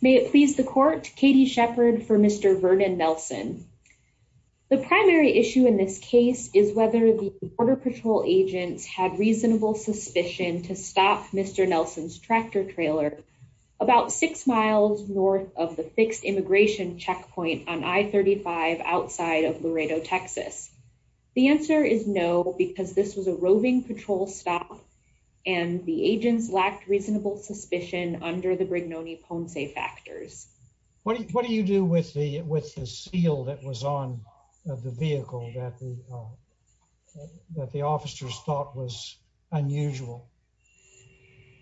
May it please the court, Katie Shepard for Mr. Vernon Nelson. The primary issue in this case is whether the Border Patrol agents had reasonable suspicion to stop Mr. Nelson's tractor trailer about six miles north of the fixed immigration checkpoint on I-35 outside of Laredo, Texas. The answer is no because this was a roving patrol stop and the agents lacked reasonable suspicion under the Brignone-Ponce factors. What do you do with the with the seal that was on the vehicle that the officers thought was unusual?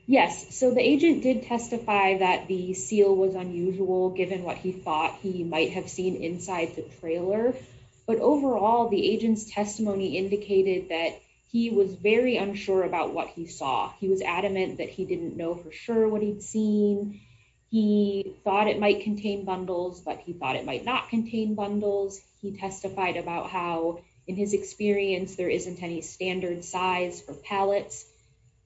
Yes, so the agent did testify that the seal was unusual given what he thought he might have seen inside the trailer, but overall the agent's testimony indicated that he was very unsure about what he saw. He was adamant that he didn't know for sure what he'd seen. He thought it might contain bundles, but he thought it might not contain bundles. He testified about how in his experience there isn't any standard size for pallets.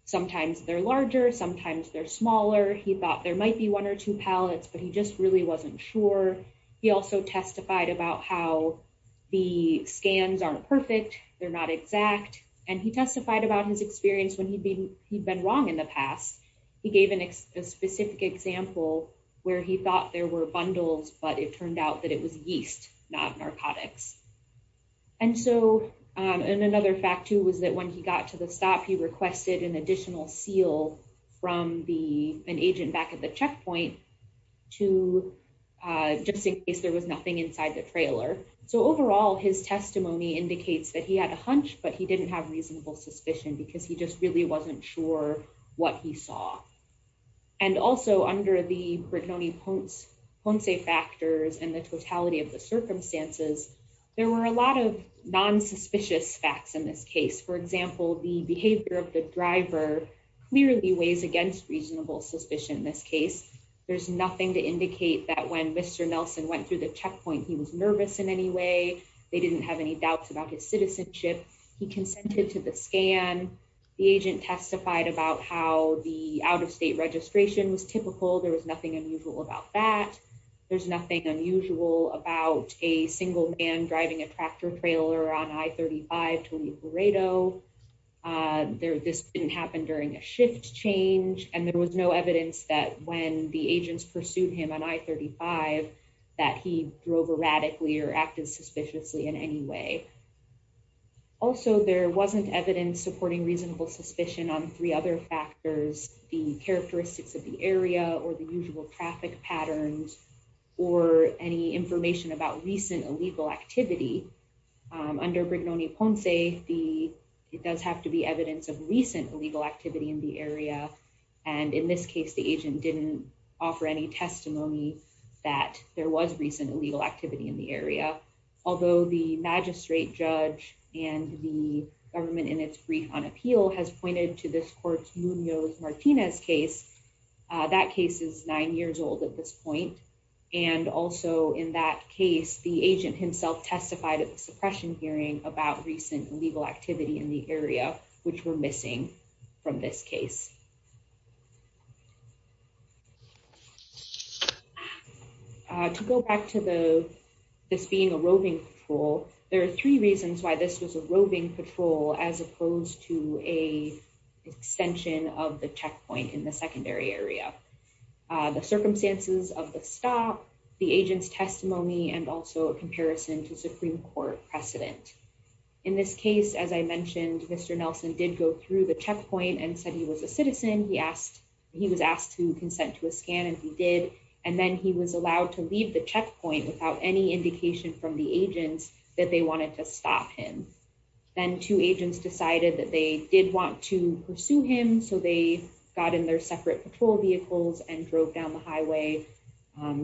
Sometimes they're larger, sometimes they're smaller. He thought there might be one or two pallets, but he just really wasn't sure. He also testified about how the scans aren't perfect, they're not exact, and he testified about his experience when he'd been wrong in the past. He gave a specific example where he thought there were bundles, but it turned out that it was yeast not narcotics. Another fact too was that when he got to the stop he requested an additional seal from an agent back at the checkpoint just in case there was nothing inside the trailer. So overall his testimony indicates that he had a hunch, but he didn't have reasonable suspicion because he just really wasn't sure what he saw. And also under the Brignone-Ponce factors and the totality of the circumstances, there were a lot of non-suspicious facts in this case. For example, the behavior of the driver clearly weighs against reasonable suspicion in this case. There's nothing to indicate that when Mr. Nelson went through the checkpoint he was nervous in any way. They didn't have any doubts about his citizenship. He consented to the scan. The agent testified about how the out-of-state registration was typical. There was nothing unusual about that. There's nothing unusual about a single man driving a tractor trailer on I-35 to the Laredo. This didn't happen during a shift change, and there was no evidence that when the in any way. Also there wasn't evidence supporting reasonable suspicion on three other factors, the characteristics of the area or the usual traffic patterns or any information about recent illegal activity. Under Brignone-Ponce, it does have to be evidence of recent illegal activity in the area, and in this case the agent didn't offer any testimony that there was recent illegal activity in the area. Although the magistrate judge and the government in its brief on appeal has pointed to this court's Munoz-Martinez case, that case is nine years old at this point, and also in that case the agent himself testified at the suppression hearing about recent illegal activity in the area which were missing from this case. To go back to the this being a roving patrol, there are three reasons why this was a roving patrol as opposed to a extension of the checkpoint in the secondary area. The circumstances of the stop, the agent's testimony, and also a comparison to Supreme Court precedent. In this case, as I mentioned, Mr. Nelson did go through the checkpoint and said he was a citizen, but he did not testify he asked he was asked to consent to a scan and he did, and then he was allowed to leave the checkpoint without any indication from the agents that they wanted to stop him. Then two agents decided that they did want to pursue him, so they got in their separate patrol vehicles and drove down the highway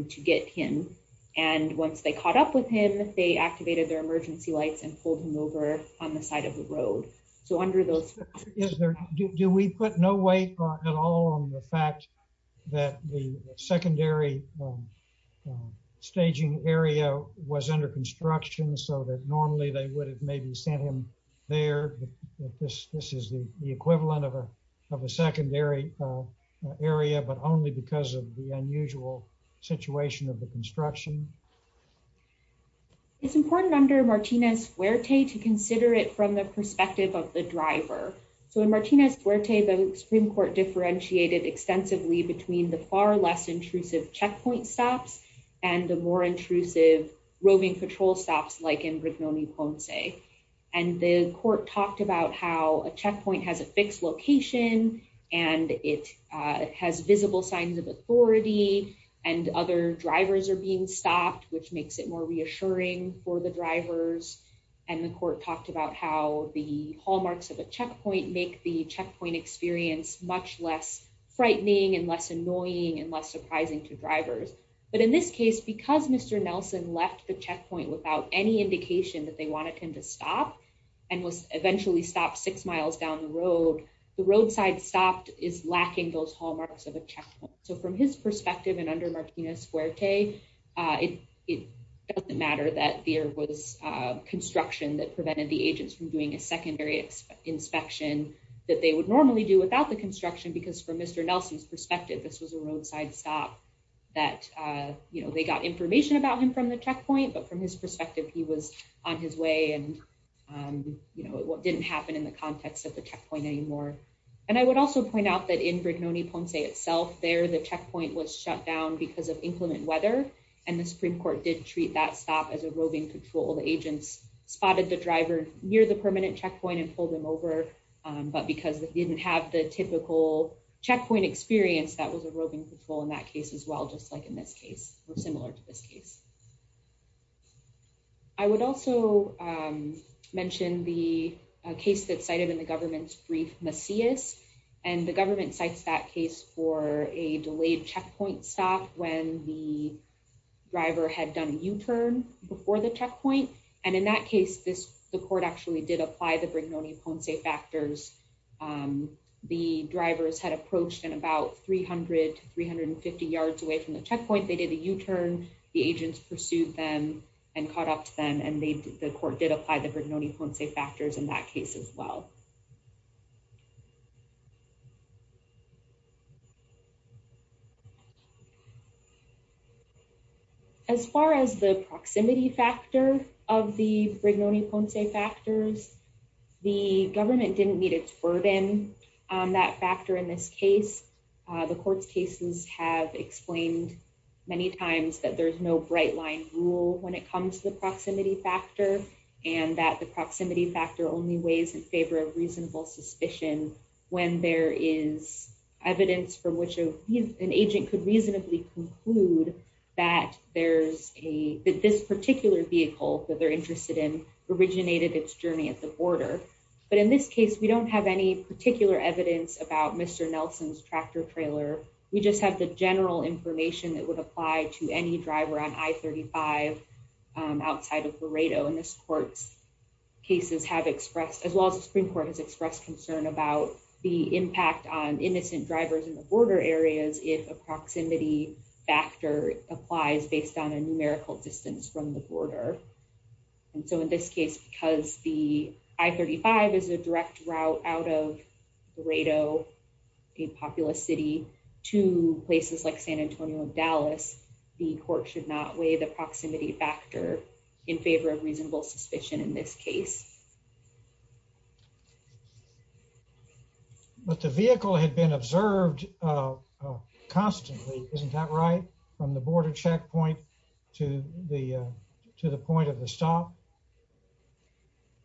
to get him, and once they caught up with him, they activated their emergency lights and pulled him over on the side of the road. So under those... Do we put no weight at all on the fact that the secondary staging area was under construction, so that normally they would have maybe sent him there, but this is the equivalent of a secondary area, but only because of the to consider it from the perspective of the driver. So in Martinez-Fuerte, the Supreme Court differentiated extensively between the far less intrusive checkpoint stops and the more intrusive roving patrol stops like in Brignone-Ponce, and the court talked about how a checkpoint has a fixed location, and it has visible signs of authority, and other drivers are being stopped, which makes it more reassuring for the drivers, and the court talked about how the hallmarks of a checkpoint make the checkpoint experience much less frightening and less annoying and less surprising to drivers. But in this case, because Mr. Nelson left the checkpoint without any indication that they wanted him to stop and was eventually stopped six miles down the road, the roadside stop is lacking those it doesn't matter that there was construction that prevented the agents from doing a secondary inspection that they would normally do without the construction, because from Mr. Nelson's perspective, this was a roadside stop that, you know, they got information about him from the checkpoint, but from his perspective, he was on his way and, you know, what didn't happen in the context of the checkpoint anymore. And I would also point out that in Brignone-Ponce itself, there did treat that stop as a roving patrol. The agents spotted the driver near the permanent checkpoint and pulled him over, but because they didn't have the typical checkpoint experience, that was a roving patrol in that case as well, just like in this case, or similar to this case. I would also mention the case that's cited in the government's brief, Macias, and the government cites that case for a delayed checkpoint stop when the driver had done a U-turn before the checkpoint. And in that case, the court actually did apply the Brignone-Ponce factors. The drivers had approached in about 300 to 350 yards away from the checkpoint, they did a U-turn, the agents pursued them and caught up to them, and the court did apply the Brignone-Ponce factors in that case as well. As far as the proximity factor of the Brignone-Ponce factors, the government didn't meet its burden on that factor in this case. The court's cases have explained many times that there's no bright line rule when it comes to the proximity factor, and that the proximity factor only weighs in favor of reasonable suspicion when there is evidence from which an agent could reasonably conclude that this particular vehicle that they're interested in originated its journey at the border. But in this case, we don't have any particular evidence about Mr. Nelson's tractor trailer, we just have the general information that would apply to any driver on I-35 outside of Laredo. And this court's cases have expressed, as well as the Supreme Court has expressed concern about the impact on innocent drivers in the border areas if a proximity factor applies based on a numerical distance from the border. And so in this case, because the I-35 is a direct route out of Laredo, a populous city, to places like San Antonio and Dallas, the court should not weigh the proximity factor in favor of reasonable suspicion in this case. But the vehicle had been observed constantly, isn't that right? From the border checkpoint to the point of the stop?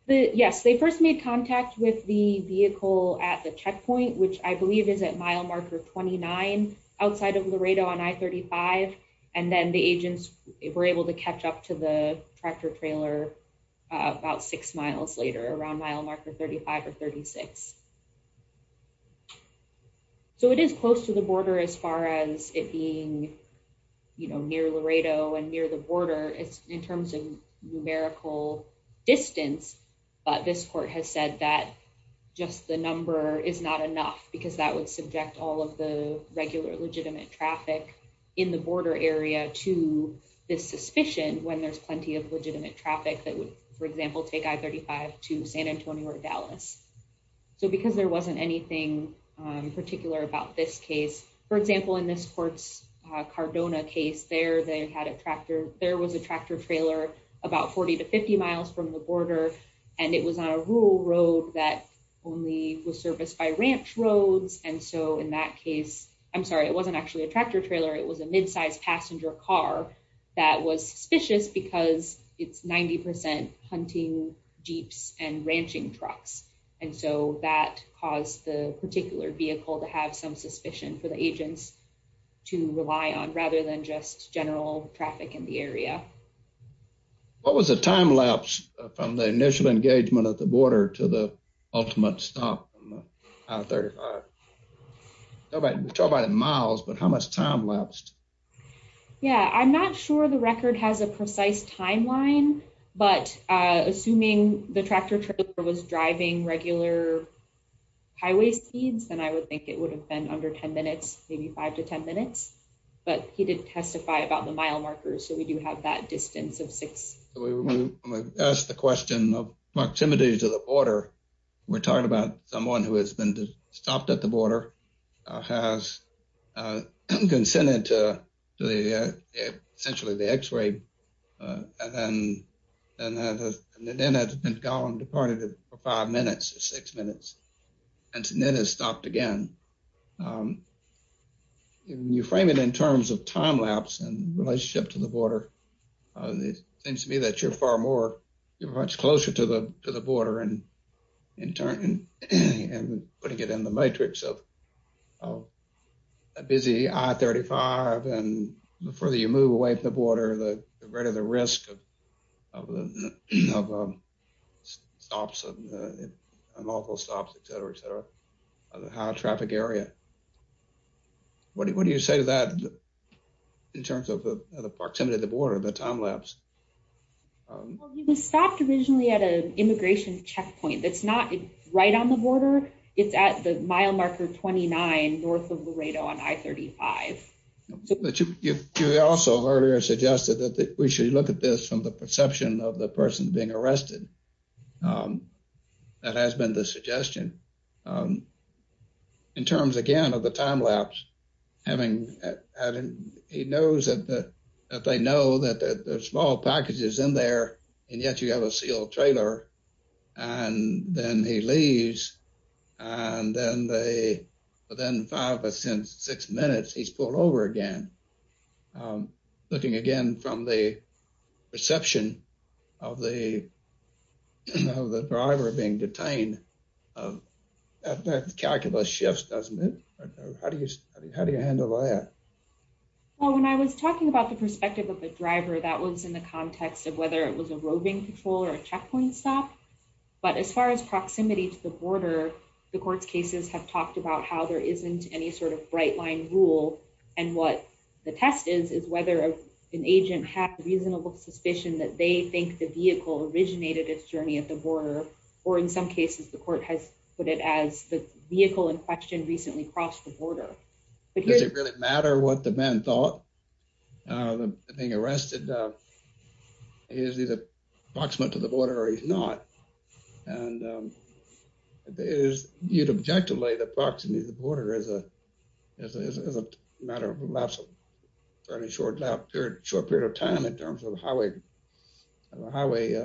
Yes, they first made contact with the vehicle at the checkpoint, which I believe is at mile marker 29 outside of Laredo on I-35. And then the agents were able to catch up to the tractor trailer about six miles later around mile marker 35 or 36. So it is close to the border as far as it being near Laredo and near the border in terms of because that would subject all of the regular legitimate traffic in the border area to this suspicion when there's plenty of legitimate traffic that would, for example, take I-35 to San Antonio or Dallas. So because there wasn't anything particular about this case, for example, in this court's Cardona case there, there was a tractor trailer about 40 to 50 miles from the roads. And so in that case, I'm sorry, it wasn't actually a tractor trailer. It was a midsize passenger car that was suspicious because it's 90% hunting jeeps and ranching trucks. And so that caused the particular vehicle to have some suspicion for the agents to rely on rather than just general traffic in the area. What was the time lapse from the initial engagement at the border to the ultimate stop on I-35? We're talking about in miles, but how much time lapsed? Yeah, I'm not sure the record has a precise timeline, but assuming the tractor trailer was driving regular highway speeds, then I would think it would have been under 10 minutes, maybe 5 to 10 minutes. But he did testify about the mile markers. So we do have that distance of six. We asked the question of proximity to the border. We're talking about someone who has been stopped at the border, has consented to essentially the x-ray, and then has been gone, departed for five minutes, six minutes, and then has stopped again. When you frame it in terms of time lapse and relationship to the border, it seems to me that you're far more, you're much closer to the border and putting it in the matrix of a busy I-35 and the further you move away from the border, the greater the risk of stops, unlawful stops, etc., etc., of a high traffic area. What do you say to that in terms of the proximity of the border, the time lapse? Well, he was stopped originally at an immigration checkpoint that's not right on the border. It's at the mile marker 29 north of Laredo on I-35. But you also earlier suggested that we should look at this from the perception of the person being arrested. That has been the suggestion. In terms, again, of the time lapse, he knows that they know that there's small packages in there, and yet you have a sealed trailer. And then he leaves, and then within five or six minutes, he's pulled over again. Looking again from the perception of the driver being detained, that calculus shifts, doesn't it? How do you handle that? Well, when I was talking about the perspective of the driver, that was in the context of whether it was a roving patrol or a checkpoint stop. But as far as proximity to the border, the court's cases have talked about how there isn't any sort of bright line rule. And what the test is, is whether an agent has reasonable suspicion that they think the vehicle originated its journey at the border. Or in some cases, the court has put it as the vehicle in question recently crossed the border. Does it really matter what the man thought? The being arrested, he is either proximate to the border or he's not. And you'd object to lay the proximity to the border as a matter of lapse of fairly short period of time in terms of how a highway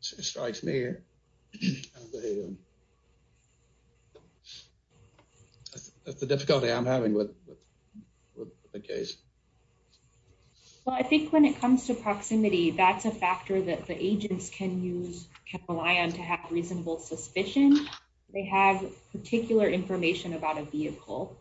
strikes me. That's the difficulty I'm having with the case. Well, I think when it comes to proximity, that's a factor that the agents can rely on to have reasonable suspicion. They have particular information about a vehicle.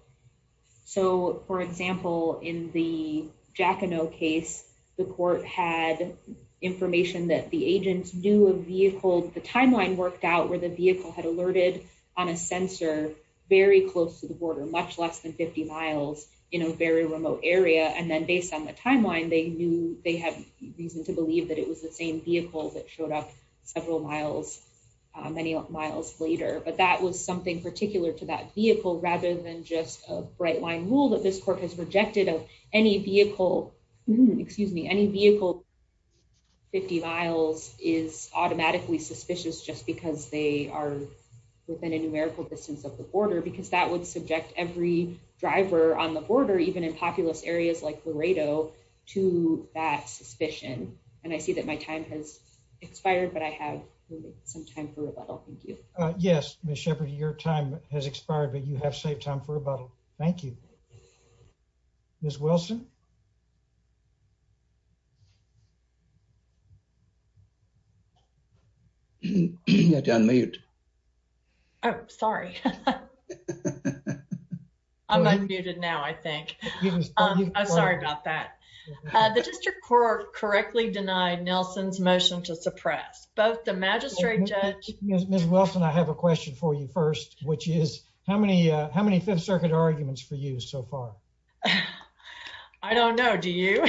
So for example, in the Jackineau case, the court had information that the agents knew a vehicle, the timeline worked out where the vehicle had alerted on a sensor very close to the border, much less than 50 miles in a very remote area. And then based on the timeline, they knew they have reason to believe that it was the same vehicle that showed up several miles, many miles later. But that was something particular to that vehicle rather than just a bright line rule that this court has rejected of any vehicle, excuse me, any vehicle 50 miles is automatically suspicious just because they are within a numerical distance of the border, because that would subject every driver on the border, even in populous areas like Laredo to that suspicion. And I see that my time has expired, but I have some time for rebuttal. Thank you. Yes, Ms. Sheppard, your time has expired. Thank you, Ms. Wilson. You have to unmute. Oh, sorry. I'm unmuted now, I think. I'm sorry about that. The district court correctly denied Nelson's motion to suppress both the magistrate judge. Ms. Wilson, I have a question for you first, which is how many Fifth Circuit arguments for you so far? I don't know. Do you?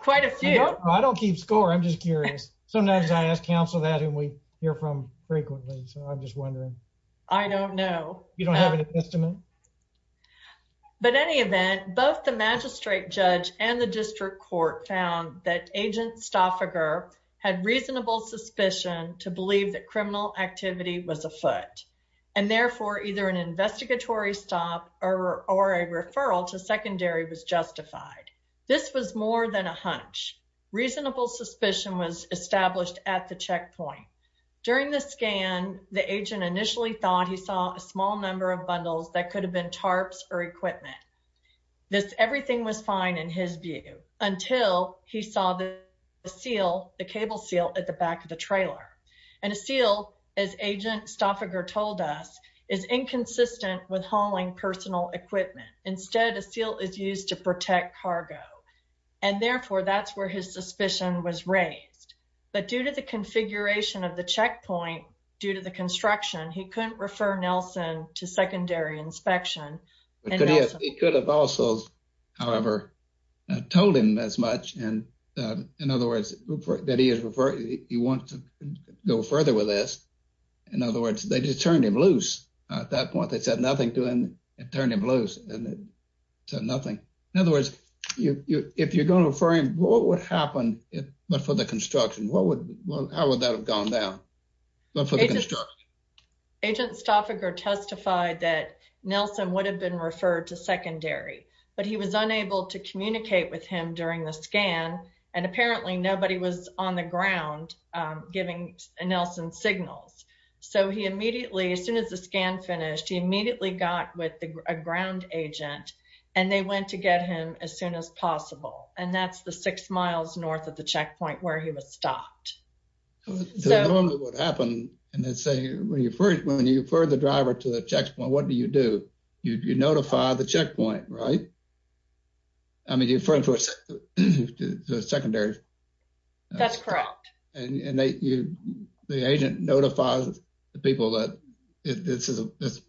Quite a few. I don't keep score. I'm just curious. Sometimes I ask counsel that and we hear from frequently. So I'm just wondering. I don't know. You don't have an estimate? But any event, both the magistrate judge and the district court found that Agent Stoffager had reasonable suspicion to believe that criminal activity was afoot. And therefore, either an investigatory stop or a referral to secondary was justified. This was more than a hunch. Reasonable suspicion was established at the checkpoint. During the scan, the agent initially thought he saw a small number of bundles that could have been tarps or equipment. This everything was fine in his view until he saw the seal, the cable seal at the back of the trailer. And a seal, as Agent Stoffager told us, is inconsistent with hauling personal equipment. Instead, a seal is used to protect cargo. And therefore, that's where his suspicion was raised. But due to the configuration of the checkpoint, due to the construction, he couldn't refer Nelson to secondary inspection. He could have also, however, told him as much. And in other words, that he wants to go further with this. In other words, they just turned him loose. At that point, they said nothing to him and turned him loose and said nothing. In other words, if you're going to refer him, what would happen for the construction? How would that have gone down? For the construction? Agent Stoffager testified that Nelson would have been referred to secondary, but he was unable to communicate with him during the scan. And apparently nobody was on the ground giving Nelson signals. So he immediately, as soon as the scan finished, he immediately got with a ground agent and they went to get him as soon as possible. And that's the six miles north of the checkpoint where he was stopped. So normally what happened, and they say, when you refer the driver to the checkpoint, what do you do? You notify the checkpoint, right? I mean, you refer him to a secondary. That's correct. And the agent notifies the people that this is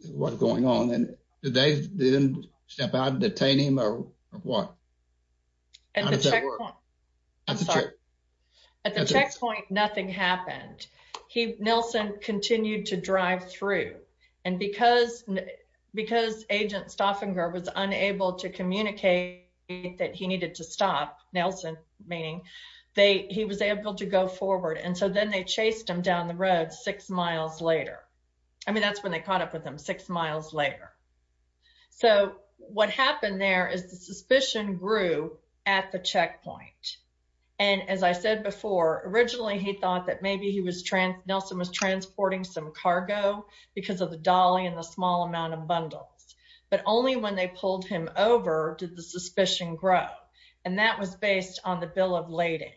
what's going on. And they didn't step out and detain him or what? At the checkpoint, nothing happened. Nelson continued to drive through. And because Agent Stoffager was unable to communicate that he needed to stop, Nelson meaning, he was able to go forward. And so then they chased him down the road six miles later. I mean, that's when they caught up with him six miles later. So what happened there is the suspicion grew at the checkpoint. And as I said before, originally he thought that maybe he was, Nelson was transporting some cargo because of the dolly and the small amount of bundles. But only when they pulled him over did the suspicion grow. And that was based on the bill of lading.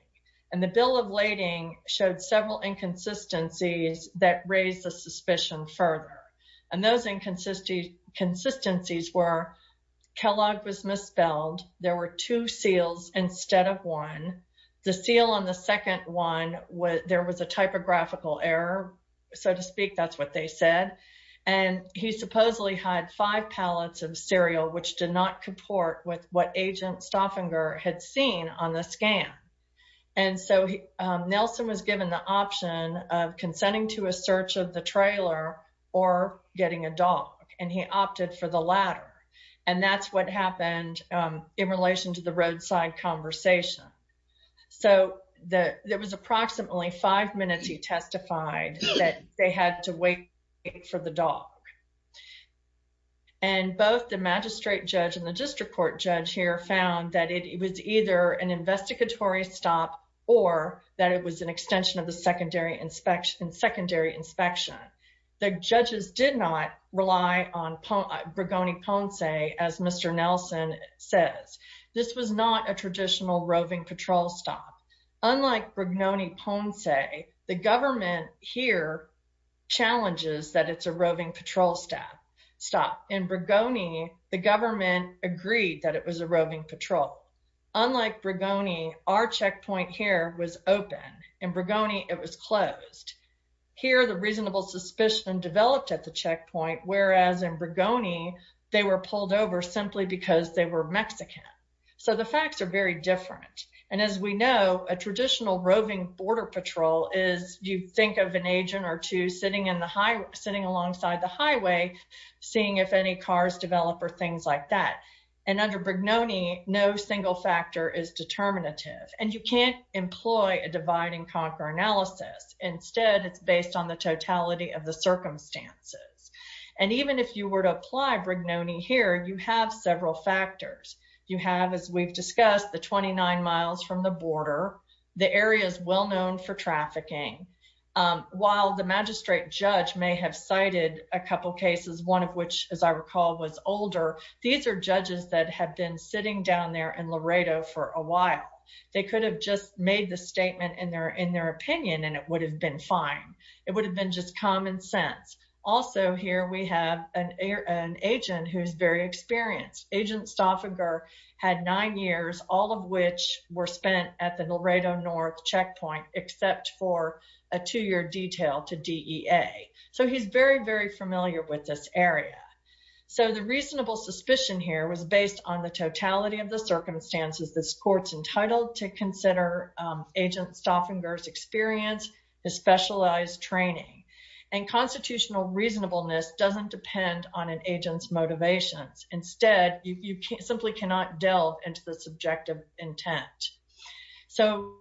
And the bill of lading showed several inconsistencies that raised the suspicion further. And those inconsistencies were Kellogg was misspelled. There were two seals instead of one. The seal on the second one, there was a typographical error, so to speak, that's what they said. And he supposedly had five pallets of cereal, which did not comport with what Agent Stoffager had seen on the scan. And so Nelson was given the option of consenting to a search of the trailer or getting a dog. And he opted for the latter. And that's what happened in relation to the roadside conversation. So there was approximately five minutes he testified that they had to wait for the dog. And both the magistrate judge and the district court judge here found that it was either an investigatory stop or that it was an extension of the secondary inspection. The judges did not rely on Bregoni Ponce, as Mr. Nelson says. This was not a traditional roving patrol stop. Unlike Bregoni Ponce, the government here challenges that it's a roving patrol stop. In Bregoni, the government agreed that it was a Here, the reasonable suspicion developed at the checkpoint, whereas in Bregoni, they were pulled over simply because they were Mexican. So the facts are very different. And as we know, a traditional roving border patrol is you think of an agent or two sitting in the highway, sitting alongside the highway, seeing if any cars develop or things like that. And under Bregnoni, no single factor is determinative. And you can't employ a divide and conquer analysis. Instead, it's based on the totality of the circumstances. And even if you were to apply Bregnoni here, you have several factors. You have, as we've discussed, the 29 miles from the border, the areas well known for trafficking. While the magistrate judge may have cited a couple cases, one of which, as I recall, was older, these are judges that have been sitting down there in Laredo for a while. They could have made the statement in their opinion, and it would have been fine. It would have been just common sense. Also, here we have an agent who's very experienced. Agent Stauffiger had nine years, all of which were spent at the Laredo North checkpoint, except for a two-year detail to DEA. So he's very, very familiar with this area. So the reasonable suspicion here was based on the totality of the circumstances this agent Stauffiger's experience, his specialized training. And constitutional reasonableness doesn't depend on an agent's motivations. Instead, you simply cannot delve into the subjective intent. So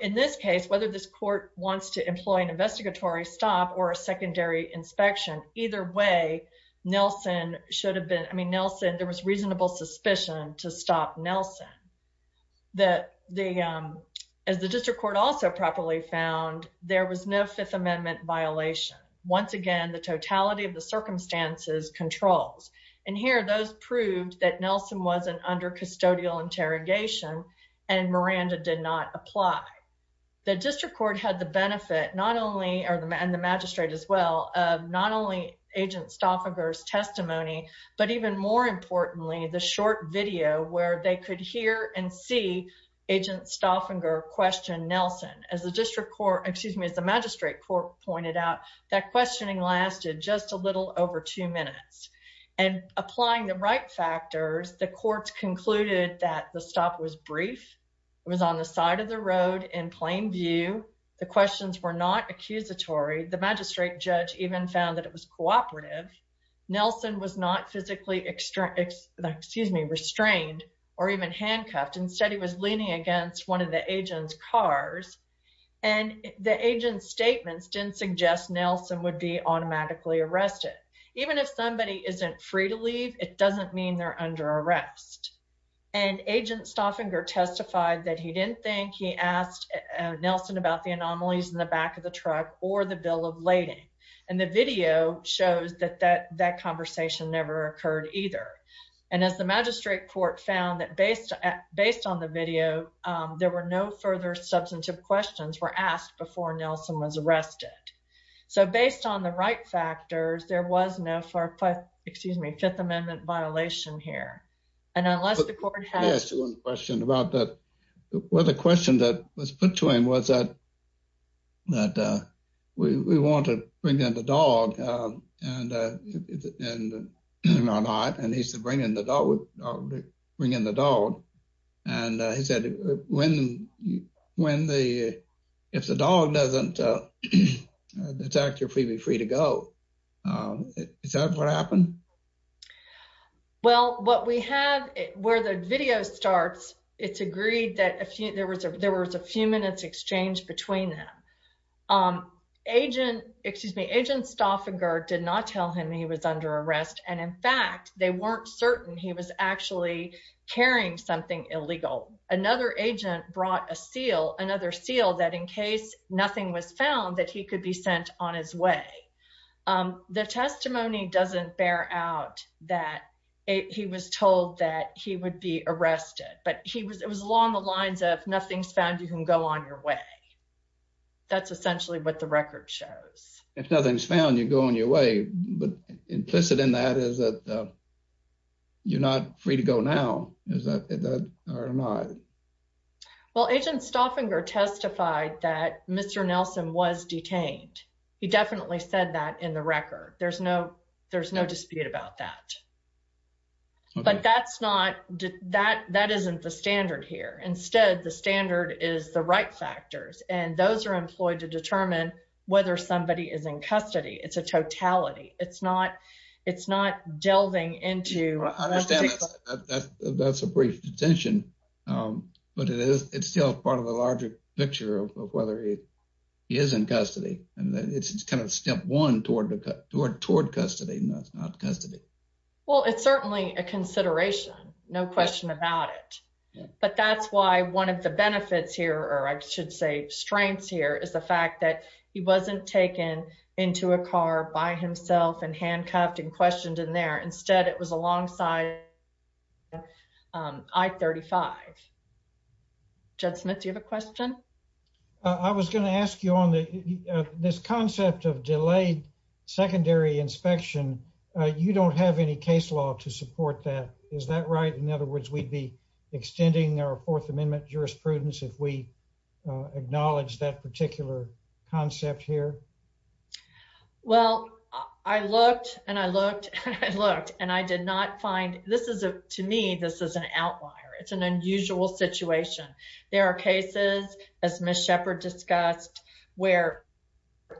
in this case, whether this court wants to employ an investigatory stop or a secondary inspection, either way, Nelson should have been, I mean, Nelson, there was reasonable suspicion to stop Nelson. As the district court also properly found, there was no Fifth Amendment violation. Once again, the totality of the circumstances controls. And here, those proved that Nelson wasn't under custodial interrogation, and Miranda did not apply. The district court had the benefit, not only, and the magistrate as well, of not only agent Stauffiger's testimony, but even more importantly, the short video where they could hear and see agent Stauffiger question Nelson. As the district court, excuse me, as the magistrate court pointed out, that questioning lasted just a little over two minutes. And applying the right factors, the courts concluded that the stop was brief. It was on the side of the road in plain view. The questions were not accusatory. The magistrate judge even found that it was cooperative. Nelson was not physically, excuse me, restrained or even handcuffed. Instead, he was leaning against one of the agent's cars. And the agent's statements didn't suggest Nelson would be automatically arrested. Even if somebody isn't free to leave, it doesn't mean they're under arrest. And agent Stauffiger testified that he didn't think he asked Nelson about the anomalies in the back of the truck or the bill of lading. And the video shows that that conversation never occurred either. And as the magistrate court found that based on the video, there were no further substantive questions were asked before Nelson was arrested. So based on the right factors, there was no, excuse me, Fifth Amendment violation here. And unless the court has- Well, the question that was put to him was that we want to bring in the dog and he said, bring in the dog. And he said, if the dog doesn't detect you're free to go, is that what happened? Well, what we have where the video starts, it's agreed that there was a few minutes exchange between them. Agent, excuse me, agent Stauffiger did not tell him he was under arrest. And in fact, they weren't certain he was actually carrying something illegal. Another agent brought a seal, another seal that in case nothing was found, that he could be sent on his way. The testimony doesn't bear out that he was told that he would be arrested, but it was along the lines of, nothing's found, you can go on your way. That's essentially what the record shows. If nothing's found, you go on your way. But implicit in that is that you're not free to go now, is that or not? Well, agent Stauffiger testified that Mr. Nelson was detained. He definitely said that in the video. There's no dispute about that. But that isn't the standard here. Instead, the standard is the right factors. And those are employed to determine whether somebody is in custody. It's a totality. It's not delving into- I understand that's a brief detention, but it's still part of the larger picture of whether he is in custody. And it's kind of step one toward custody, not custody. Well, it's certainly a consideration, no question about it. But that's why one of the benefits here, or I should say strengths here, is the fact that he wasn't taken into a car by himself and handcuffed and questioned in there. Instead, it was alongside I-35. Judd Smith, do you have a question? I was going to ask you on this concept of delayed secondary inspection. You don't have any case law to support that. Is that right? In other words, we'd be extending our Fourth Amendment jurisprudence if we acknowledge that particular concept here? Well, I looked and I looked and I looked, to me, this is an outlier. It's an unusual situation. There are cases, as Ms. Shepard discussed, where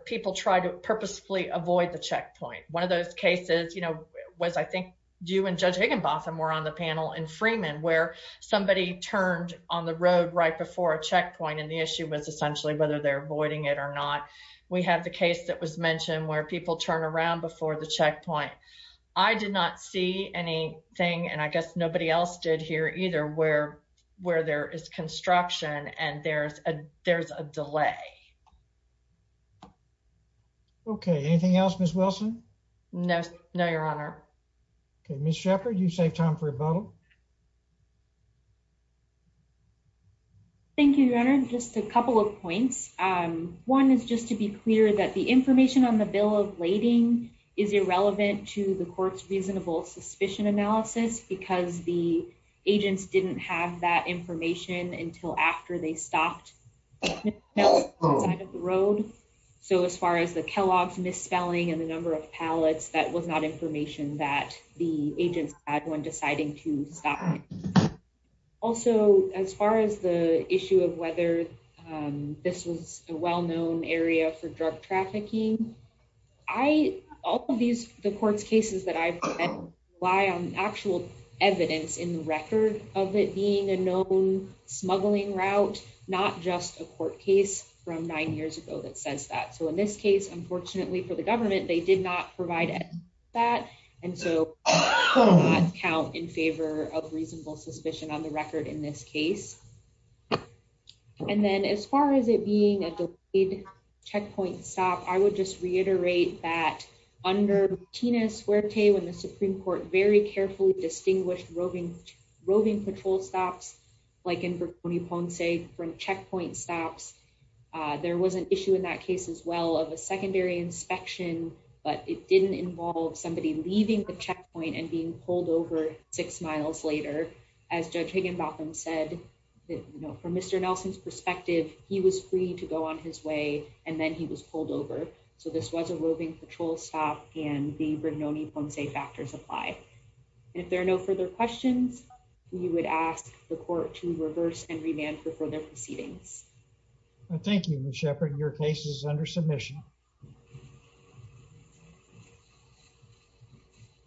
people try to purposefully avoid the checkpoint. One of those cases was, I think, you and Judge Higginbotham were on the panel in Freeman, where somebody turned on the road right before a checkpoint and the issue was essentially whether they're avoiding it or not. We have the thing, and I guess nobody else did here either, where there is construction and there's a delay. Okay. Anything else, Ms. Wilson? No, Your Honor. Okay. Ms. Shepard, you saved time for a bubble. Thank you, Your Honor. Just a couple of points. One is just to be clear that the information on suspicion analysis, because the agents didn't have that information until after they stopped outside of the road. So, as far as the Kellogg's misspelling and the number of pallets, that was not information that the agents had when deciding to stop. Also, as far as the issue of whether this was a well-known area for drug trafficking, all of these, the court's cases that I've relied on actual evidence in the record of it being a known smuggling route, not just a court case from nine years ago that says that. So, in this case, unfortunately for the government, they did not provide that. And so, I cannot count in favor of reasonable suspicion on the record in this case. And then, as far as it being a delayed checkpoint stop, I would just reiterate that under Tina Suerte, when the Supreme Court very carefully distinguished roving patrol stops, like in Verconi Ponce, from checkpoint stops, there was an issue in that case as well of a secondary inspection, but it didn't involve somebody leaving the checkpoint and being pulled over six miles later. As Judge Higginbotham said, from Mr. Nelson's perspective, he was free to go on his way and then he was pulled over. So, this was a roving patrol stop and the Verconi Ponce factors apply. And if there are no further questions, we would ask the court to reverse and remand for further proceedings. Thank you, Ms. Sheppard. Your case is under submission.